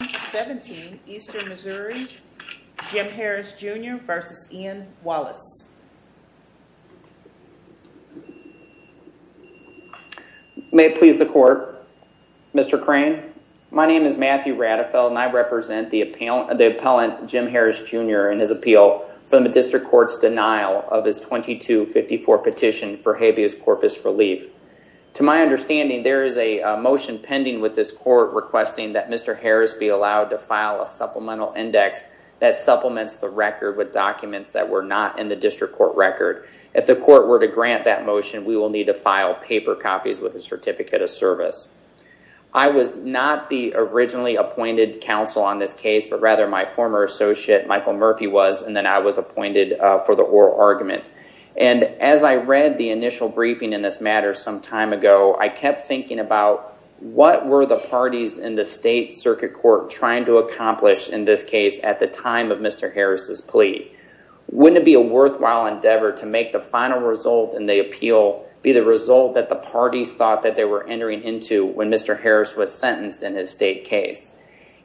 May it please the Court, Mr. Crane. My name is Matthew Radefeld and I represent the appellant Jim Harris, Jr. in his appeal for the District Court's denial of his § 2254 petition for habeas corpus relief. To my understanding, there is a motion pending with this Court requesting that Mr. Harris be allowed to file a supplemental index that supplements the record with documents that were not in the District Court record. If the Court were to grant that motion, we will need to file paper copies with a certificate of service. I was not the originally appointed counsel on this case, but rather my former associate Michael Murphy was, and then I was appointed for the oral argument. And as I read the initial briefing in this matter some time ago, I kept thinking about what were the parties in the State Circuit Court trying to accomplish in this case at the time of Mr. Harris' plea? Wouldn't it be a worthwhile endeavor to make the final result in the appeal be the result that the parties thought that they were entering into when Mr. Harris was sentenced in his State case?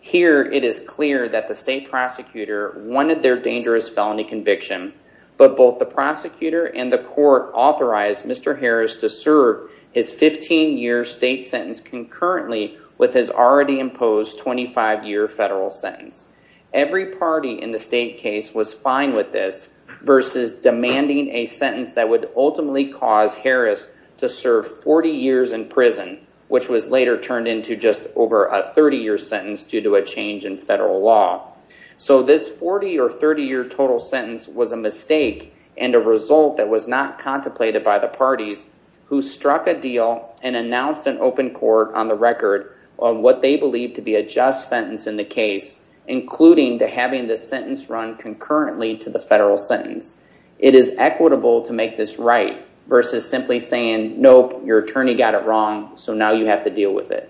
Here, it is clear that the State prosecutor wanted their dangerous felony conviction, but both the prosecutor and the Court authorized Mr. Harris to serve his 15-year State sentence concurrently with his already imposed 25-year Federal sentence. Every party in the State case was fine with this versus demanding a sentence that would ultimately cause Harris to serve 40 years in prison, which was later turned into just over a 30-year sentence due to a change in Federal law. So this 40- or 30-year total sentence was a mistake and a result that was not contemplated by the parties who struck a deal and announced an open court on the record of what they believed to be a just sentence in the case, including to having the sentence run concurrently to the Federal sentence. It is equitable to make this right versus simply saying, nope, your attorney got it wrong, so now you have to deal with it.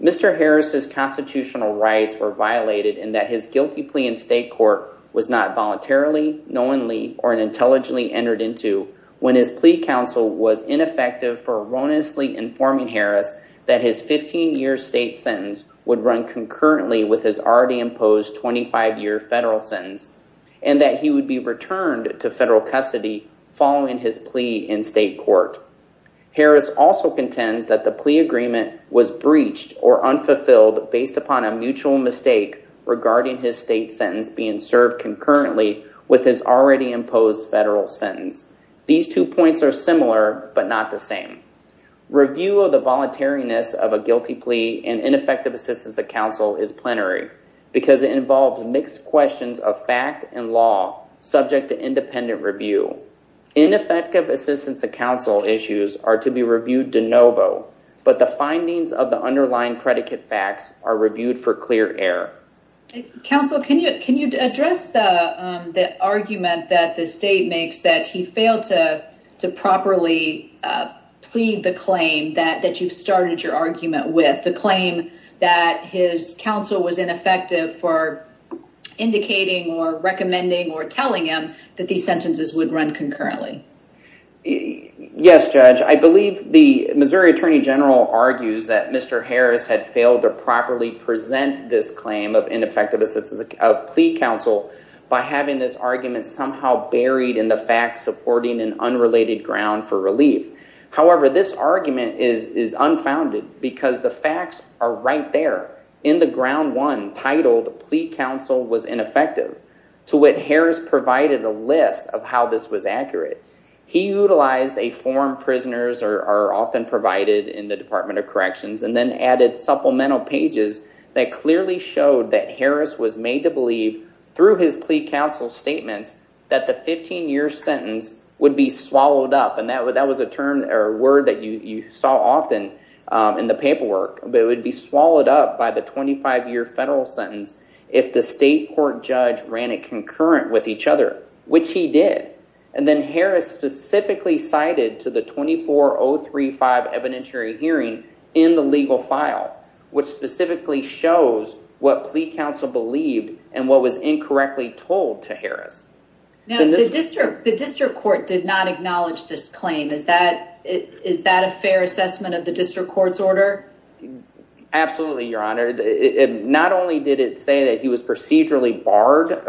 Mr. Harris' constitutional rights were violated in that his guilty plea in State court was not voluntarily, knowingly, or intelligently entered into when his plea counsel was ineffective for erroneously informing Harris that his 15-year State sentence would run concurrently with his already imposed 25-year Federal sentence and that he would be returned to Federal custody following his plea in State court. Harris also contends that the plea agreement was breached or unfulfilled based upon a mutual mistake regarding his State sentence being served concurrently with his already imposed Federal sentence. These two points are similar, but not the same. Review of the voluntariness of a guilty plea and ineffective assistance of counsel is plenary because it involves mixed questions of fact and law subject to independent review. Ineffective assistance of counsel issues are to be reviewed de novo, but the findings of the underlying predicate facts are reviewed for clear error. Counsel, can you address the argument that the State makes that he failed to properly plead the claim that you've started your argument with, the claim that his counsel was ineffective for indicating or recommending or telling him that these sentences would run concurrently? Yes, Judge. I believe the Missouri Attorney General argues that Mr. Harris had failed to properly present this claim of ineffective assistance of plea counsel by having this argument somehow buried in the fact supporting an unrelated ground for relief. However, this argument is unfounded because the facts are right there in the ground one titled plea counsel was ineffective to what Harris provided a list of how this was accurate. He utilized a form prisoners are often provided in the Department of Corrections and then added supplemental pages that clearly showed that Harris was made to believe through his plea counsel statements that the 15-year sentence would be swallowed up and that was a word that you saw often in the paperwork, but it would be swallowed up by the 25-year federal sentence if the state court judge ran it concurrent with each other, which he did. And then Harris specifically cited to the 24-035 evidentiary hearing in the legal file, which specifically shows what plea counsel believed and what was incorrectly told to Harris. Now, the district court did not acknowledge this claim. Is that is that a fair assessment of the district court's order? Absolutely, Your Honor. Not only did it say that he was procedurally barred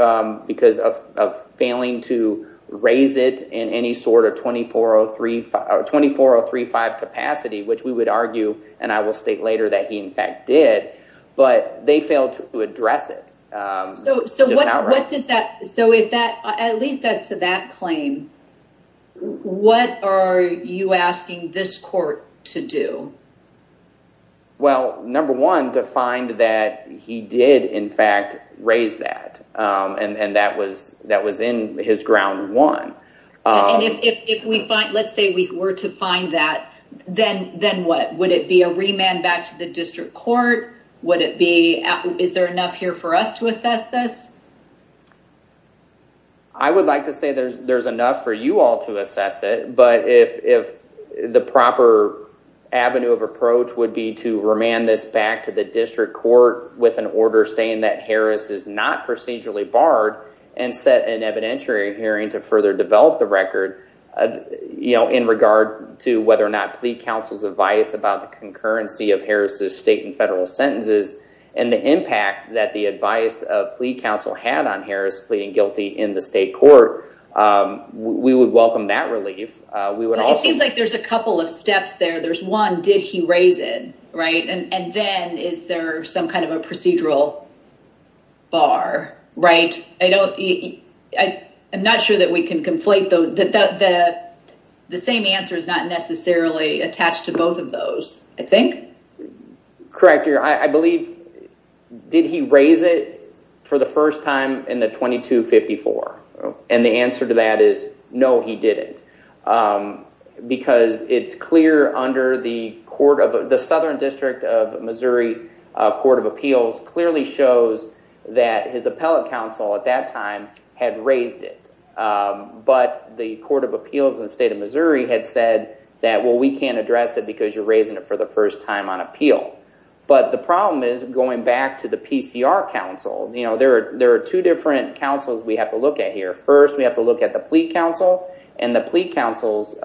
because of failing to raise it in any sort of 24-035 capacity, which we would argue and I will state later that he in fact did, but they failed to address it. So what does that so if that at least as to that claim, what are you asking this court to do? Well, number one, to find that he did, in fact, raise that and that was that was in his ground one. And if we find let's say we were to find that, then then what would it be a remand back to the district court? Would it be is there enough here for us to assess this? I would like to say there's there's enough for you all to assess it. But if if the proper avenue of approach would be to remand this back to the district court with an order saying that Harris is not procedurally barred and set an evidentiary hearing to further develop the record in regard to whether or not plea counsel's advice about the concurrency of Harris's state and federal sentences and the impact that the advice of plea counsel had on Harris pleading guilty in the state court, we would welcome that relief. We would also like there's a couple of steps there. There's one. Did he raise it? Right. And then is there some kind of a procedural bar? Right. I don't I am not sure that we can conflate the same answer is not necessarily attached to both of those. I think. Correct. I believe. Did he raise it for the first time in the twenty two fifty four? And the answer to that is no, he didn't, because it's clear under the court of the Southern District of Missouri Court of Appeals clearly shows that his appellate counsel at that time had raised it. But the Court of Appeals in the state of Missouri had said that, well, we can't address it because you're raising it for the first time on appeal. But the problem is going back to the PCR counsel. You know, there are there are two different counsels we have to look at here. First, we have to look at the plea counsel and the plea counsel's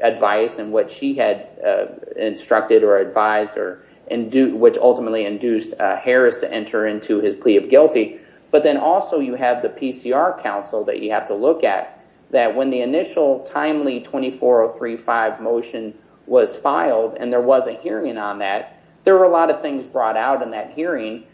advice and what she had instructed or advised or and which ultimately induced Harris to enter into his plea of guilty. But then also you have the PCR counsel that you have to look at that when the initial timely twenty four or three five motion was filed and there was a hearing on that. There were a lot of things brought out in that hearing,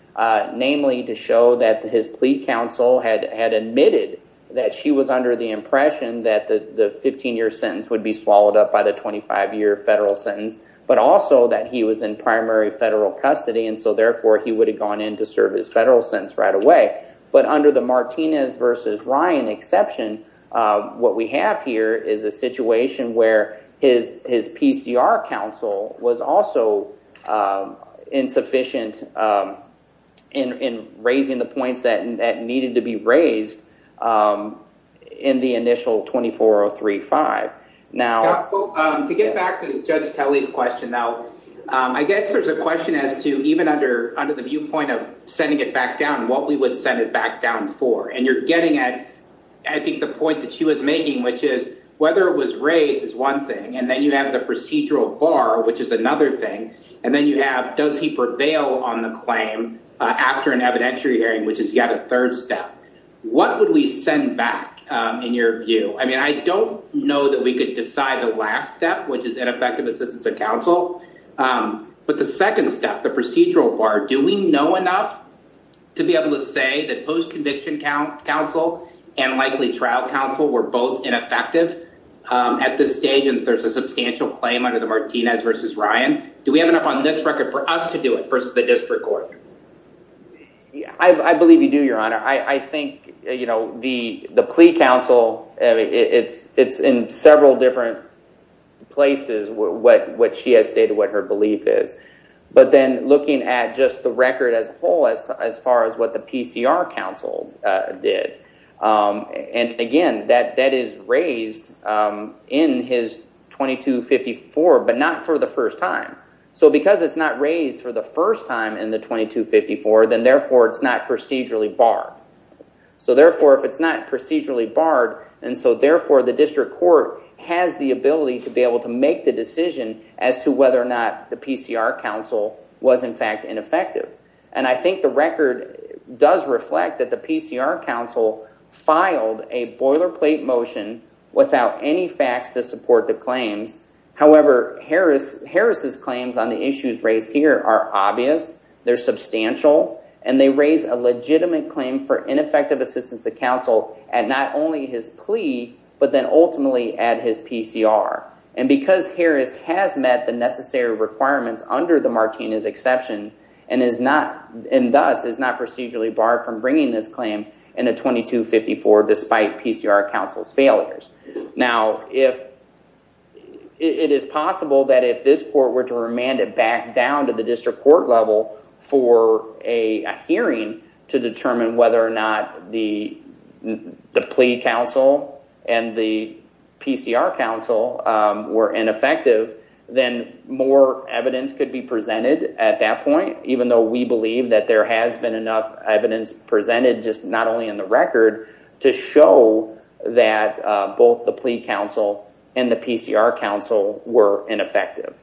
namely to show that his plea counsel had admitted that she was under the impression that the 15 year sentence would be swallowed up by the 25 year federal sentence, but also that he was in primary federal custody. And so therefore he would have gone in to serve his federal sentence right away. But under the Martinez versus Ryan exception, what we have here is a case where the PCR counsel was also insufficient in raising the points that needed to be raised in the initial twenty four or three five now to get back to Judge Kelly's question. Now, I guess there's a question as to even under under the viewpoint of sending it back down and what we would send it back down for. And you're getting at, I think, the point that she was making, which is whether it was raised is one thing. And then you have the procedural bar, which is another thing. And then you have does he prevail on the claim after an evidentiary hearing, which is yet a third step. What would we send back in your view? I mean, I don't know that we could decide the last step, which is ineffective assistance of counsel. But the second step, the procedural bar, do we know enough to be able to say that post-conviction counsel and likely trial counsel were both ineffective at this stage? And there's a substantial claim under the Martinez versus Ryan. Do we have enough on this record for us to do it versus the district court? I believe you do, your honor. I think, you know, the the plea counsel, it's it's in several different places what what she has stated, what her belief is. But then looking at just the record as a whole, as far as what the PCR counsel did. And again, that that is raised in his 2254, but not for the first time. So because it's not raised for the first time in the 2254, then therefore it's not procedurally barred. So therefore, if it's not procedurally barred. And so therefore, the district court has the ability to be able to make the decision as to whether or not the PCR counsel was, in fact, ineffective. And I think the record does reflect that the PCR counsel filed a boilerplate motion without any facts to support the claims. However, Harris Harris's claims on the issues raised here are obvious. They're substantial. And they raise a legitimate claim for ineffective assistance to counsel and not only his plea, but then ultimately at his PCR. And because Harris has met the necessary requirements under the Martinez exception and is not and thus is not procedurally barred from bringing this claim in a 2254, despite PCR counsel's failures. Now, if it is possible that if this court were to remand it back down to the district court level for a hearing to determine whether or not the the plea counsel and the PCR counsel were ineffective, then more evidence could be presented at that point, even though we believe that there has been enough evidence presented just not only in the record to show that both the plea counsel and the PCR counsel were ineffective.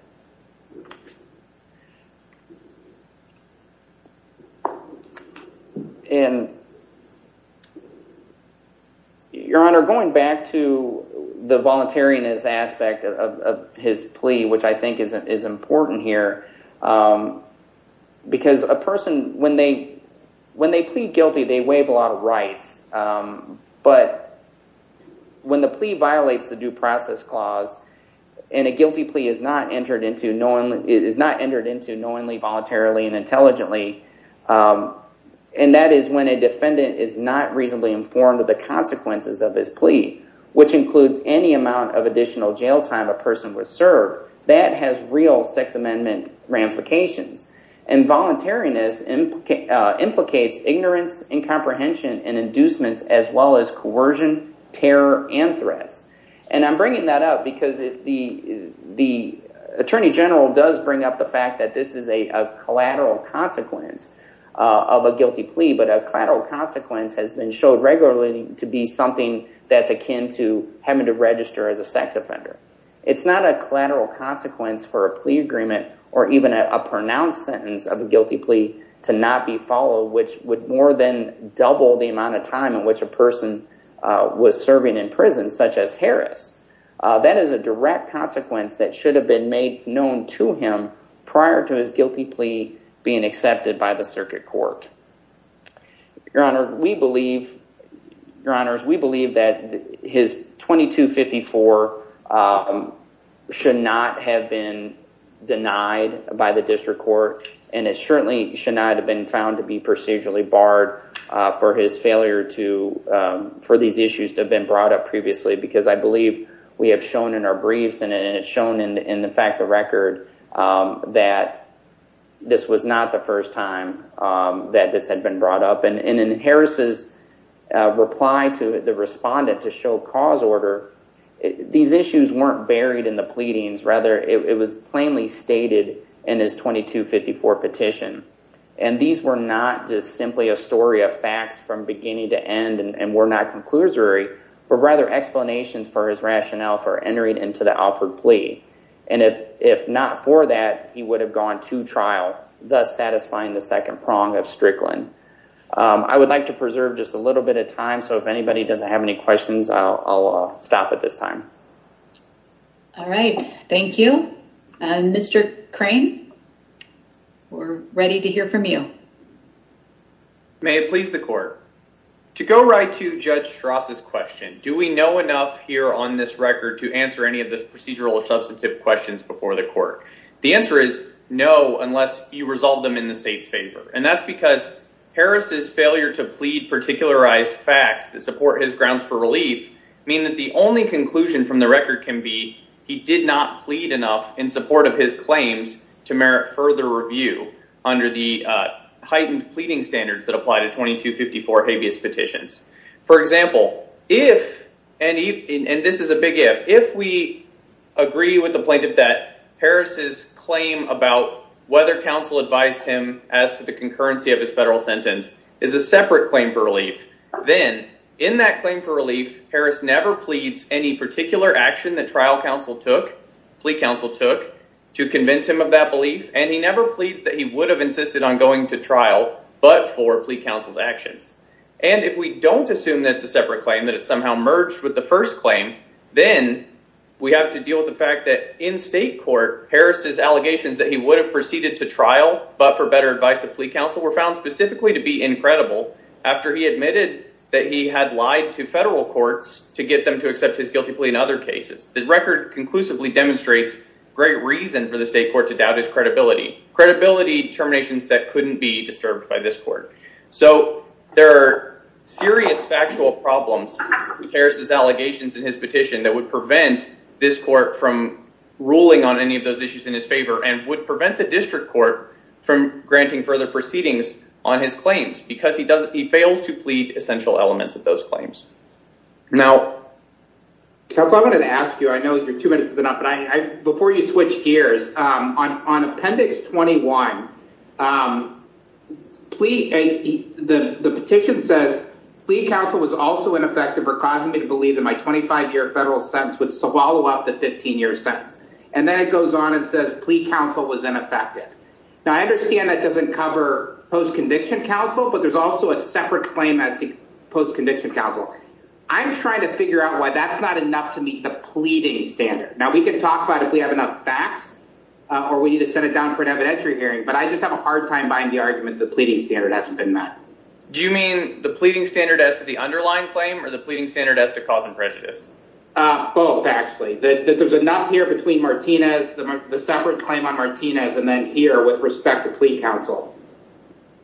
And. Your Honor, going back to the voluntariness aspect of his plea, which I think is is important here because a person when they when they plead guilty, they waive a lot of rights. But when the plea violates the due process clause and a guilty plea is not entered into no one is not entered into knowingly, voluntarily and intelligently, and that is when a defendant is not reasonably informed of the consequences of his plea, which includes any amount of additional jail time, a person was served that has real Sixth Amendment ramifications. And voluntariness implicates ignorance and comprehension and inducements, as well as coercion, terror and threats. And I'm bringing that up because the the attorney general does bring up the fact that this is a collateral consequence of a guilty plea, but a collateral consequence has been showed regularly to be something that's akin to having to register as a sex offender. It's not a collateral consequence for a plea agreement or even a pronounced sentence of a guilty plea to not be followed, which would more than double the amount of time in which a person was serving in prison, such as Harris. That is a direct consequence that should have been made known to him prior to his guilty plea being accepted by the circuit court. Your Honor, we believe, Your Honors, we believe that his 2254 should not have been denied by the district court and it certainly should not have been found to be procedurally barred for his failure to for these issues to have been brought up previously, because I believe we have shown in our briefs and it's shown in the fact, the this had been brought up and in Harris's reply to the respondent to show cause order. These issues weren't buried in the pleadings. Rather, it was plainly stated in his 2254 petition. And these were not just simply a story of facts from beginning to end and were not conclusory, but rather explanations for his rationale for entering into the offered plea. And if not for that, he would have gone to trial, thus satisfying the second prong of Strickland. I would like to preserve just a little bit of time. So if anybody doesn't have any questions, I'll stop at this time. All right, thank you. And Mr. Crane, we're ready to hear from you. May it please the court, to go right to Judge Strauss's question, do we know enough here on this record to answer any of this procedural substantive questions before the court? The answer is no, unless you resolve them in the state's favor. And that's because Harris's failure to plead particularized facts that support his grounds for relief mean that the only conclusion from the record can be he did not plead enough in support of his claims to merit further review under the heightened pleading standards that apply to 2254 habeas petitions. For example, if and this is a big if, if we agree with the plaintiff that Harris's claim about whether counsel advised him as to the concurrency of his federal sentence is a separate claim for relief, then in that claim for relief, Harris never pleads any particular action that trial counsel took, plea counsel took to convince him of that belief. And he never pleads that he would have insisted on going to trial, but for plea counsel's actions. And if we don't assume that it's a separate claim, that it somehow merged with the first claim, then we have to deal with the fact that in state court, Harris's allegations that he would have proceeded to trial, but for better advice of plea counsel were found specifically to be incredible after he admitted that he had lied to federal courts to get them to accept his guilty plea in other cases. The record conclusively demonstrates great reason for the state court to doubt his credibility. Credibility terminations that couldn't be disturbed by this court. So there are serious factual problems with Harris's allegations in his petition that would prevent this court from ruling on any of those issues in his favor and would prevent the district court from granting further proceedings on his claims because he does. He fails to plead essential elements of those claims. Now, counsel, I'm going to ask you, I know you're two minutes is enough, but before you switch gears on Appendix 21, the petition says plea counsel was also ineffective for causing me to believe that my 25 year federal sentence would swallow up the 15 year sentence. And then it goes on and says plea counsel was ineffective. Now, I understand that doesn't cover post-conviction counsel, but there's also a separate claim as the post-conviction counsel. I'm trying to figure out why that's not enough to meet the pleading standard. Now, we can talk about if we have enough facts or we need to set it down for an evidentiary hearing, but I just have a hard time buying the argument the pleading standard hasn't been met. Do you mean the pleading standard as to the underlying claim or the pleading standard as to cause and prejudice? Both, actually, that there's enough here between Martinez, the separate claim on Martinez, and then here with respect to plea counsel.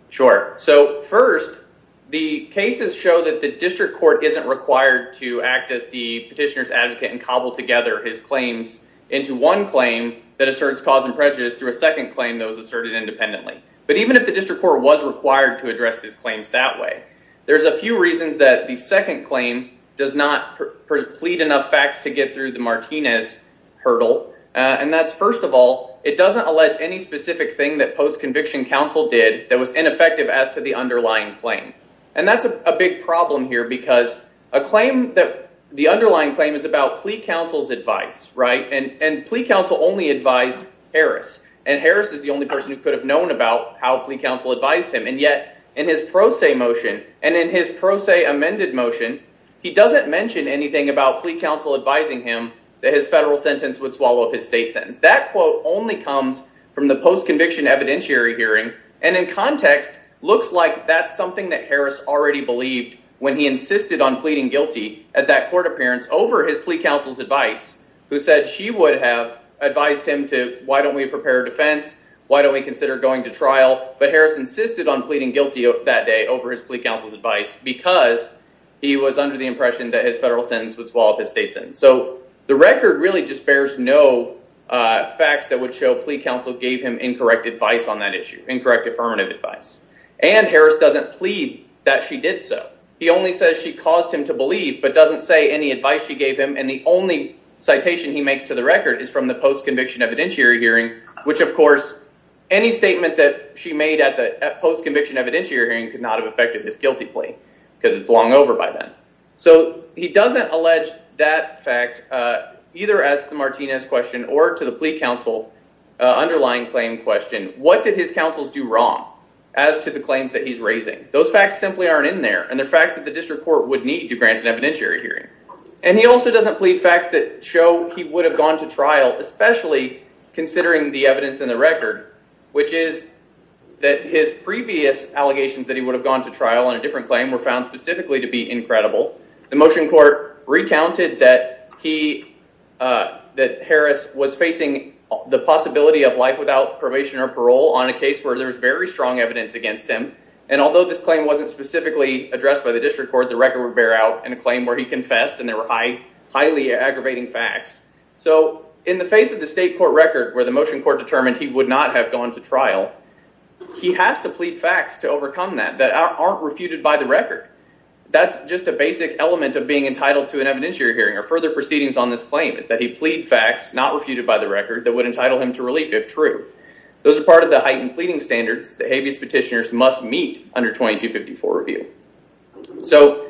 Sure. So first, the cases show that the district court isn't required to act as the petitioner's advocate and cobble together his claims into one claim that asserts cause and prejudice through a second claim that was asserted independently. But even if the district court was required to address his claims that way, there's a few reasons that the second claim does not plead enough facts to get through the Martinez hurdle. And that's first of all, it doesn't allege any specific thing that post-conviction counsel did that was ineffective as to the underlying claim. And that's a big problem here because a claim that the underlying claim is about plea counsel's advice. Right. And plea counsel only advised Harris. And Harris is the only person who could have known about how plea counsel advised him. And yet in his pro se motion and in his pro se amended motion, he doesn't mention anything about plea counsel advising him that his federal sentence would swallow up his state sentence. That quote only comes from the post-conviction evidentiary hearing. And in context, looks like that's something that Harris already believed when he insisted on pleading guilty at that court appearance over his plea counsel's advice, who is a federal defense. Why don't we consider going to trial? But Harris insisted on pleading guilty that day over his plea counsel's advice because he was under the impression that his federal sentence would swallow up his state sentence. So the record really just bears no facts that would show plea counsel gave him incorrect advice on that issue, incorrect affirmative advice. And Harris doesn't plead that she did so. He only says she caused him to believe, but doesn't say any advice she gave him. And the only citation he makes to the record is from the post-conviction evidentiary hearing, which, of course, any statement that she made at the post-conviction evidentiary hearing could not have affected his guilty plea because it's long over by then. So he doesn't allege that fact either as to the Martinez question or to the plea counsel underlying claim question. What did his counsels do wrong as to the claims that he's raising? Those facts simply aren't in there. And they're facts that the district court would need to grant an evidentiary hearing. And he also doesn't plead facts that show he would have gone to trial, especially considering the evidence in the record, which is that his previous allegations that he would have gone to trial on a different claim were found specifically to be incredible. The motion court recounted that he that Harris was facing the possibility of life without probation or parole on a case where there's very strong evidence against him. And although this claim wasn't specifically addressed by the district court, the record would bear out in a claim where he confessed and there were highly aggravating facts. So in the face of the state court record where the motion court determined he would not have gone to trial, he has to plead facts to overcome that that aren't refuted by the record. That's just a basic element of being entitled to an evidentiary hearing or further proceedings on this claim is that he plead facts not refuted by the record that would entitle him to relief if true. Those are part of the heightened pleading standards that habeas petitioners must meet under 2254 review. So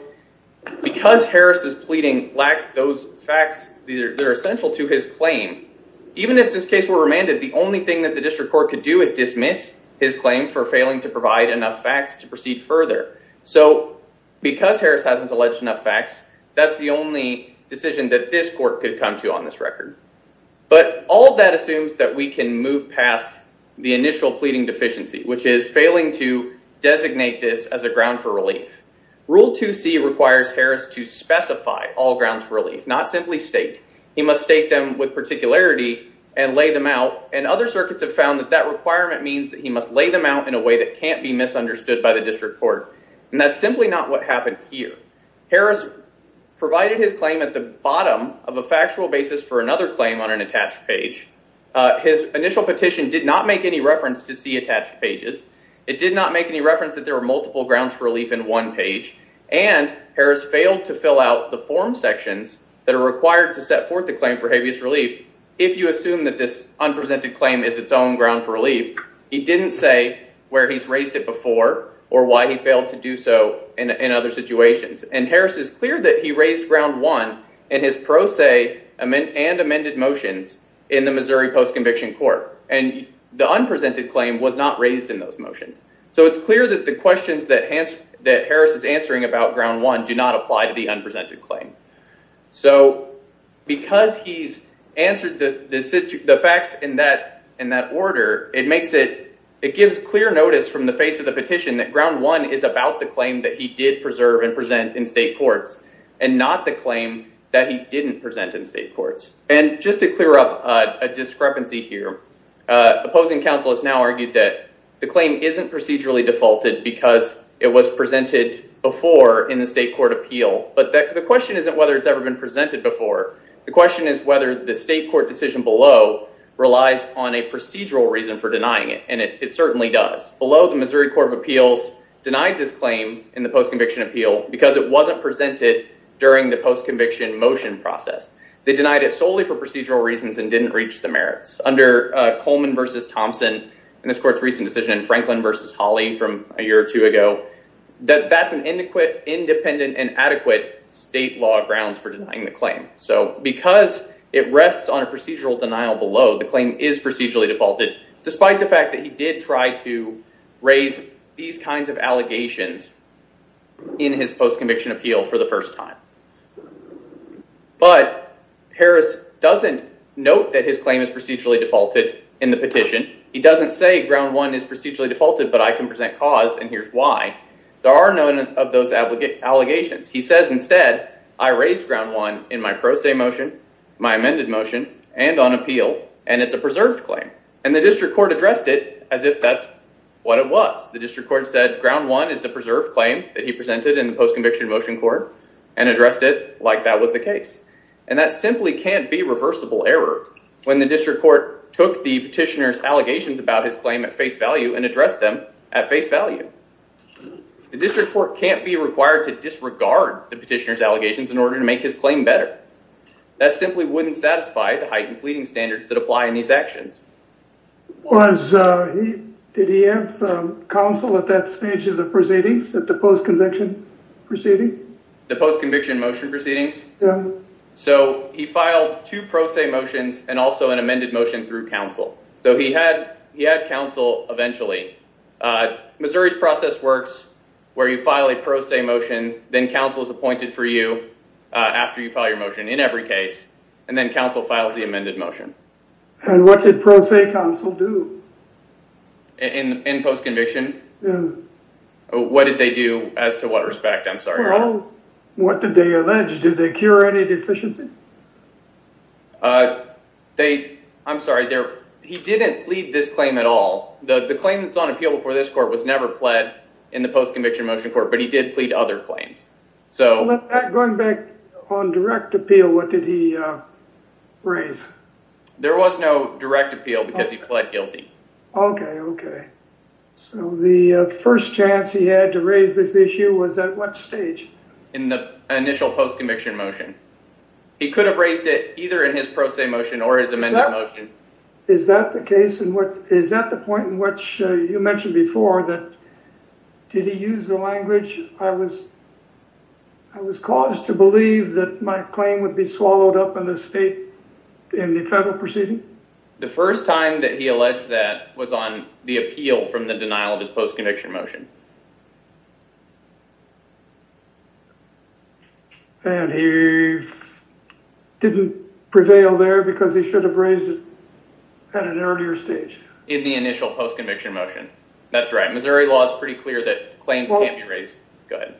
because Harris is pleading lacks those facts, these are essential to his claim. Even if this case were remanded, the only thing that the district court could do is dismiss his claim for failing to provide enough facts to proceed further. So because Harris hasn't alleged enough facts, that's the only decision that this court could come to on this record. But all of that assumes that we can move past the initial pleading deficiency, which is Rule 2C requires Harris to specify all grounds for relief, not simply state. He must state them with particularity and lay them out. And other circuits have found that that requirement means that he must lay them out in a way that can't be misunderstood by the district court. And that's simply not what happened here. Harris provided his claim at the bottom of a factual basis for another claim on an attached page. His initial petition did not make any reference to see attached pages. It did not make any reference that there were multiple grounds for relief in one page. And Harris failed to fill out the form sections that are required to set forth the claim for habeas relief. If you assume that this unpresented claim is its own ground for relief, he didn't say where he's raised it before or why he failed to do so in other situations. And Harris is clear that he raised ground one in his pro se and amended motions in the Missouri Post-Conviction Court. And the unpresented claim was not raised in those motions. So it's clear that the questions that Harris is answering about ground one do not apply to the unpresented claim. So because he's answered the facts in that order, it makes it it gives clear notice from the face of the petition that ground one is about the claim that he did preserve and present in state courts and not the claim that he didn't present in state courts. And just to clear up a discrepancy here, opposing counsel has now argued that the claim isn't procedurally defaulted because it was presented before in the state court appeal. But the question isn't whether it's ever been presented before. The question is whether the state court decision below relies on a procedural reason for denying it. And it certainly does. Below, the Missouri Court of Appeals denied this claim in the post-conviction appeal because it wasn't presented during the post-conviction motion process. They denied it solely for procedural reasons and didn't reach the merits. Under Coleman versus Thompson and this court's recent decision in Franklin versus Hawley from a year or two ago, that that's an adequate, independent and adequate state law grounds for denying the claim. So because it rests on a procedural denial below, the claim is procedurally defaulted, despite the fact that he did try to raise these kinds of allegations in his post-conviction appeal for the first time. But Harris doesn't note that his claim is procedurally defaulted in the petition. He doesn't say ground one is procedurally defaulted, but I can present cause. And here's why. There are none of those allegations. He says instead, I raised ground one in my pro se motion, my amended motion and on appeal. And it's a preserved claim. And the district court addressed it as if that's what it was. The district court said ground one is the preserved claim that he presented in the post-conviction motion court and addressed it like that was the case. And that simply can't be reversible error when the district court took the petitioner's allegations about his claim at face value and addressed them at face value. The district court can't be required to disregard the petitioner's allegations in order to make his claim better. That simply wouldn't satisfy the heightened pleading standards that apply in these actions. Was, did he have counsel at that stage of the proceedings at the post-conviction? The post-conviction motion proceedings. So he filed two pro se motions and also an amended motion through counsel. So he had he had counsel eventually. Missouri's process works where you file a pro se motion. Then counsel is appointed for you after you file your motion in every case. And then counsel files the amended motion. And what did pro se counsel do? In post-conviction? What did they do as to what respect? I'm sorry. What did they allege? Did they cure any deficiency? They. I'm sorry. He didn't plead this claim at all. The claim that's on appeal for this court was never pled in the post-conviction motion court, but he did plead other claims. So going back on direct appeal, what did he raise? There was no direct appeal because he pled guilty. OK, OK. So the first chance he had to raise this issue was at what stage in the initial post-conviction motion, he could have raised it either in his pro se motion or his amended motion. Is that the case? And what is that the point in which you mentioned before that? Did he use the language I was. I was caused to believe that my claim would be swallowed up in the state, in the federal proceeding. The first time that he alleged that was on the appeal. So he failed from the denial of his post-conviction motion. And he didn't prevail there because he should have raised it at an earlier stage. In the initial post-conviction motion. That's right. Missouri law is pretty clear that claims can't be raised. Go ahead.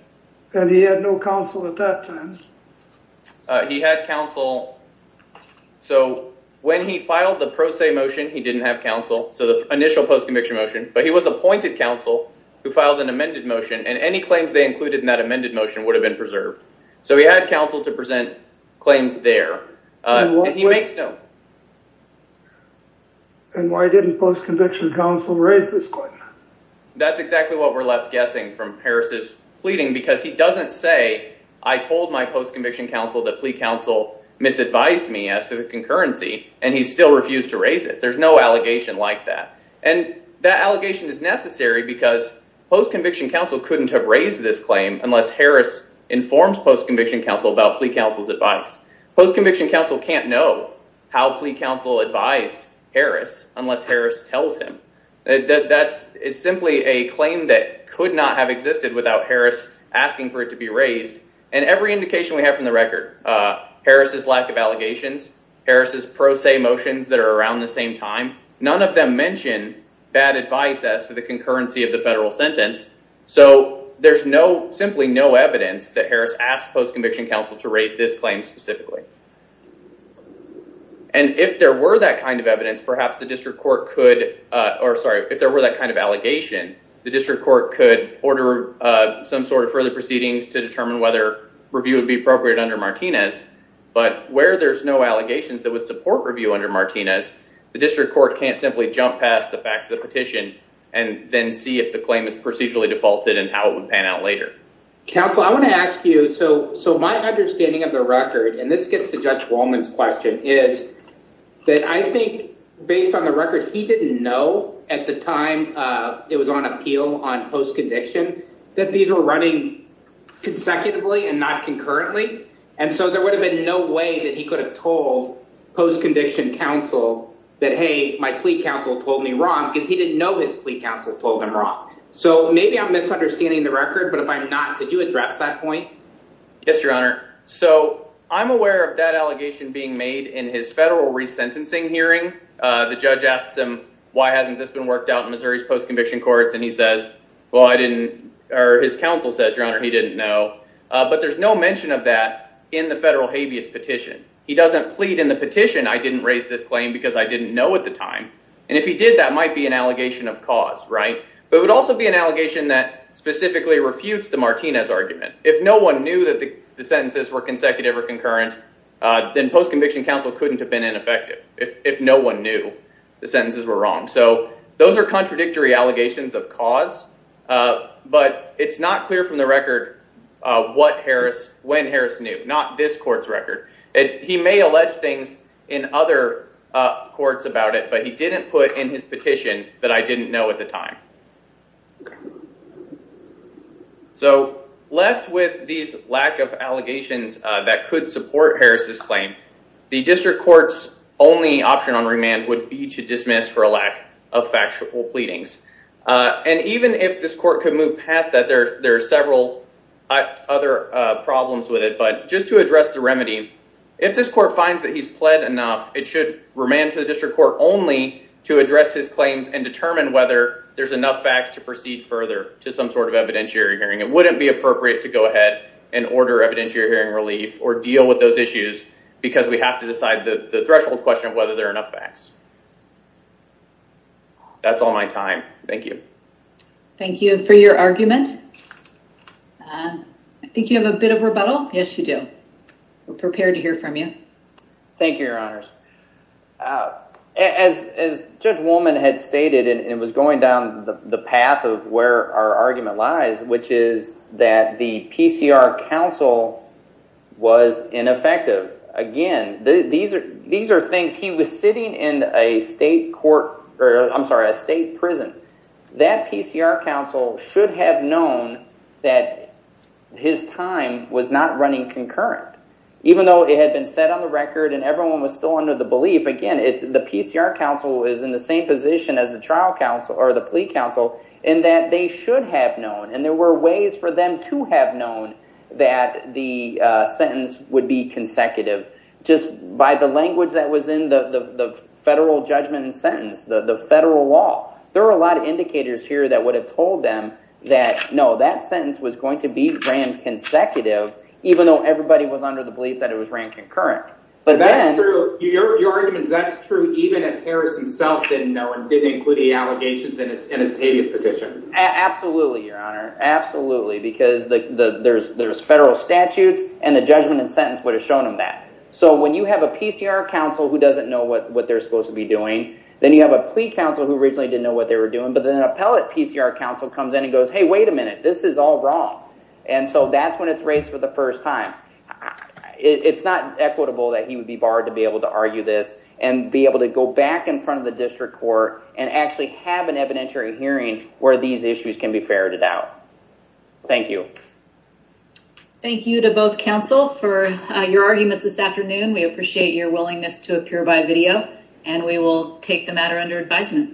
And he had no counsel at that time. He had counsel. So when he filed the pro se motion, he didn't have counsel. So the initial post-conviction motion. But he was appointed counsel who filed an amended motion and any claims they included in that amended motion would have been preserved. So he had counsel to present claims there. He makes no. And why didn't post-conviction counsel raise this claim? That's exactly what we're left guessing from Harris's pleading, because he doesn't say, I told my post-conviction counsel that plea counsel misadvised me as to the concurrency and he still refused to raise it. There's no allegation like that. And that allegation is necessary because post-conviction counsel couldn't have raised this claim unless Harris informs post-conviction counsel about plea counsel's advice. Post-conviction counsel can't know how plea counsel advised Harris unless Harris tells him that that's simply a claim that could not have existed without Harris asking for it to be raised. And every indication we have from the record, Harris's lack of allegations, Harris's pro se motions that are around the same time, none of them mention bad advice as to the concurrency of the federal sentence. So there's no simply no evidence that Harris asked post-conviction counsel to raise this claim specifically. And if there were that kind of evidence, perhaps the district court could or sorry, if there were that kind of allegation, the district court could order some sort of further proceedings to determine whether review would be effective. And if there were no allegations that would support review under Martinez, the district court can't simply jump past the facts of the petition and then see if the claim is procedurally defaulted and how it would pan out later. Counsel, I want to ask you, so my understanding of the record, and this gets to Judge Wallman's question, is that I think based on the record, he didn't know at the time it was on appeal on post-conviction that these were running consecutively and not concurrently. And so there would have been no way that he could have told post-conviction counsel that, hey, my plea counsel told me wrong because he didn't know his plea counsel told him wrong. So maybe I'm misunderstanding the record, but if I'm not, could you address that point? Yes, your honor. So I'm aware of that allegation being made in his federal resentencing hearing. The judge asked him, why hasn't this been worked out in Missouri's post-conviction courts? And he says, well, I didn't or his counsel says, your honor, he didn't know. But there's no mention of that in the federal habeas petition. He doesn't plead in the petition. I didn't raise this claim because I didn't know at the time. And if he did, that might be an allegation of cause. Right. But it would also be an allegation that specifically refutes the Martinez argument. If no one knew that the sentences were consecutive or concurrent, then post-conviction counsel couldn't have been ineffective if no one knew the sentences were wrong. So those are contradictory allegations of cause. But it's not clear from the record what Harris, when Harris knew, not this court's record. He may allege things in other courts about it, but he didn't put in his petition that I didn't know at the time. So left with these lack of allegations that could support Harris's lack of factual pleadings. And even if this court could move past that, there are several other problems with it. But just to address the remedy, if this court finds that he's pled enough, it should remain for the district court only to address his claims and determine whether there's enough facts to proceed further to some sort of evidentiary hearing. It wouldn't be appropriate to go ahead and order evidentiary hearing relief or deal with those issues because we have to decide the threshold question of whether there are enough facts. That's all my time. Thank you. Thank you for your argument. I think you have a bit of rebuttal. Yes, you do. We're prepared to hear from you. Thank you, Your Honors. As Judge Woolman had stated, and it was going down the path of where our argument lies, which is that the PCR counsel was ineffective. Again, these are things he was sitting in a state court or I'm sorry, a state prison. That PCR counsel should have known that his time was not running concurrent, even though it had been set on the record and everyone was still under the belief, again, it's the PCR counsel is in the same position as the trial counsel or the plea counsel in that they should have known. And there were ways for them to have known that the sentence would be consecutive just by the language that was in the federal judgment and sentence, the federal law. There are a lot of indicators here that would have told them that, no, that sentence was going to be ran consecutive, even though everybody was under the belief that it was ran concurrent. But that's true. Your argument is that's true. Even if Harris himself didn't know and didn't include the allegations in his habeas petition. Absolutely, Your Honor. Absolutely, because there's federal statutes and the judgment and sentence would have shown him that. So when you have a PCR counsel who doesn't know what they're supposed to be doing, then you have a plea counsel who originally didn't know what they were doing. But then an appellate PCR counsel comes in and goes, hey, wait a minute, this is all wrong. And so that's when it's raised for the first time. It's not equitable that he would be barred to be able to argue this and be able to go back in front of the district court and actually have an evidentiary hearing where these issues can be ferreted out. Thank you. Thank you to both counsel for your arguments this afternoon, we appreciate your willingness to appear by video and we will take the matter under advisement.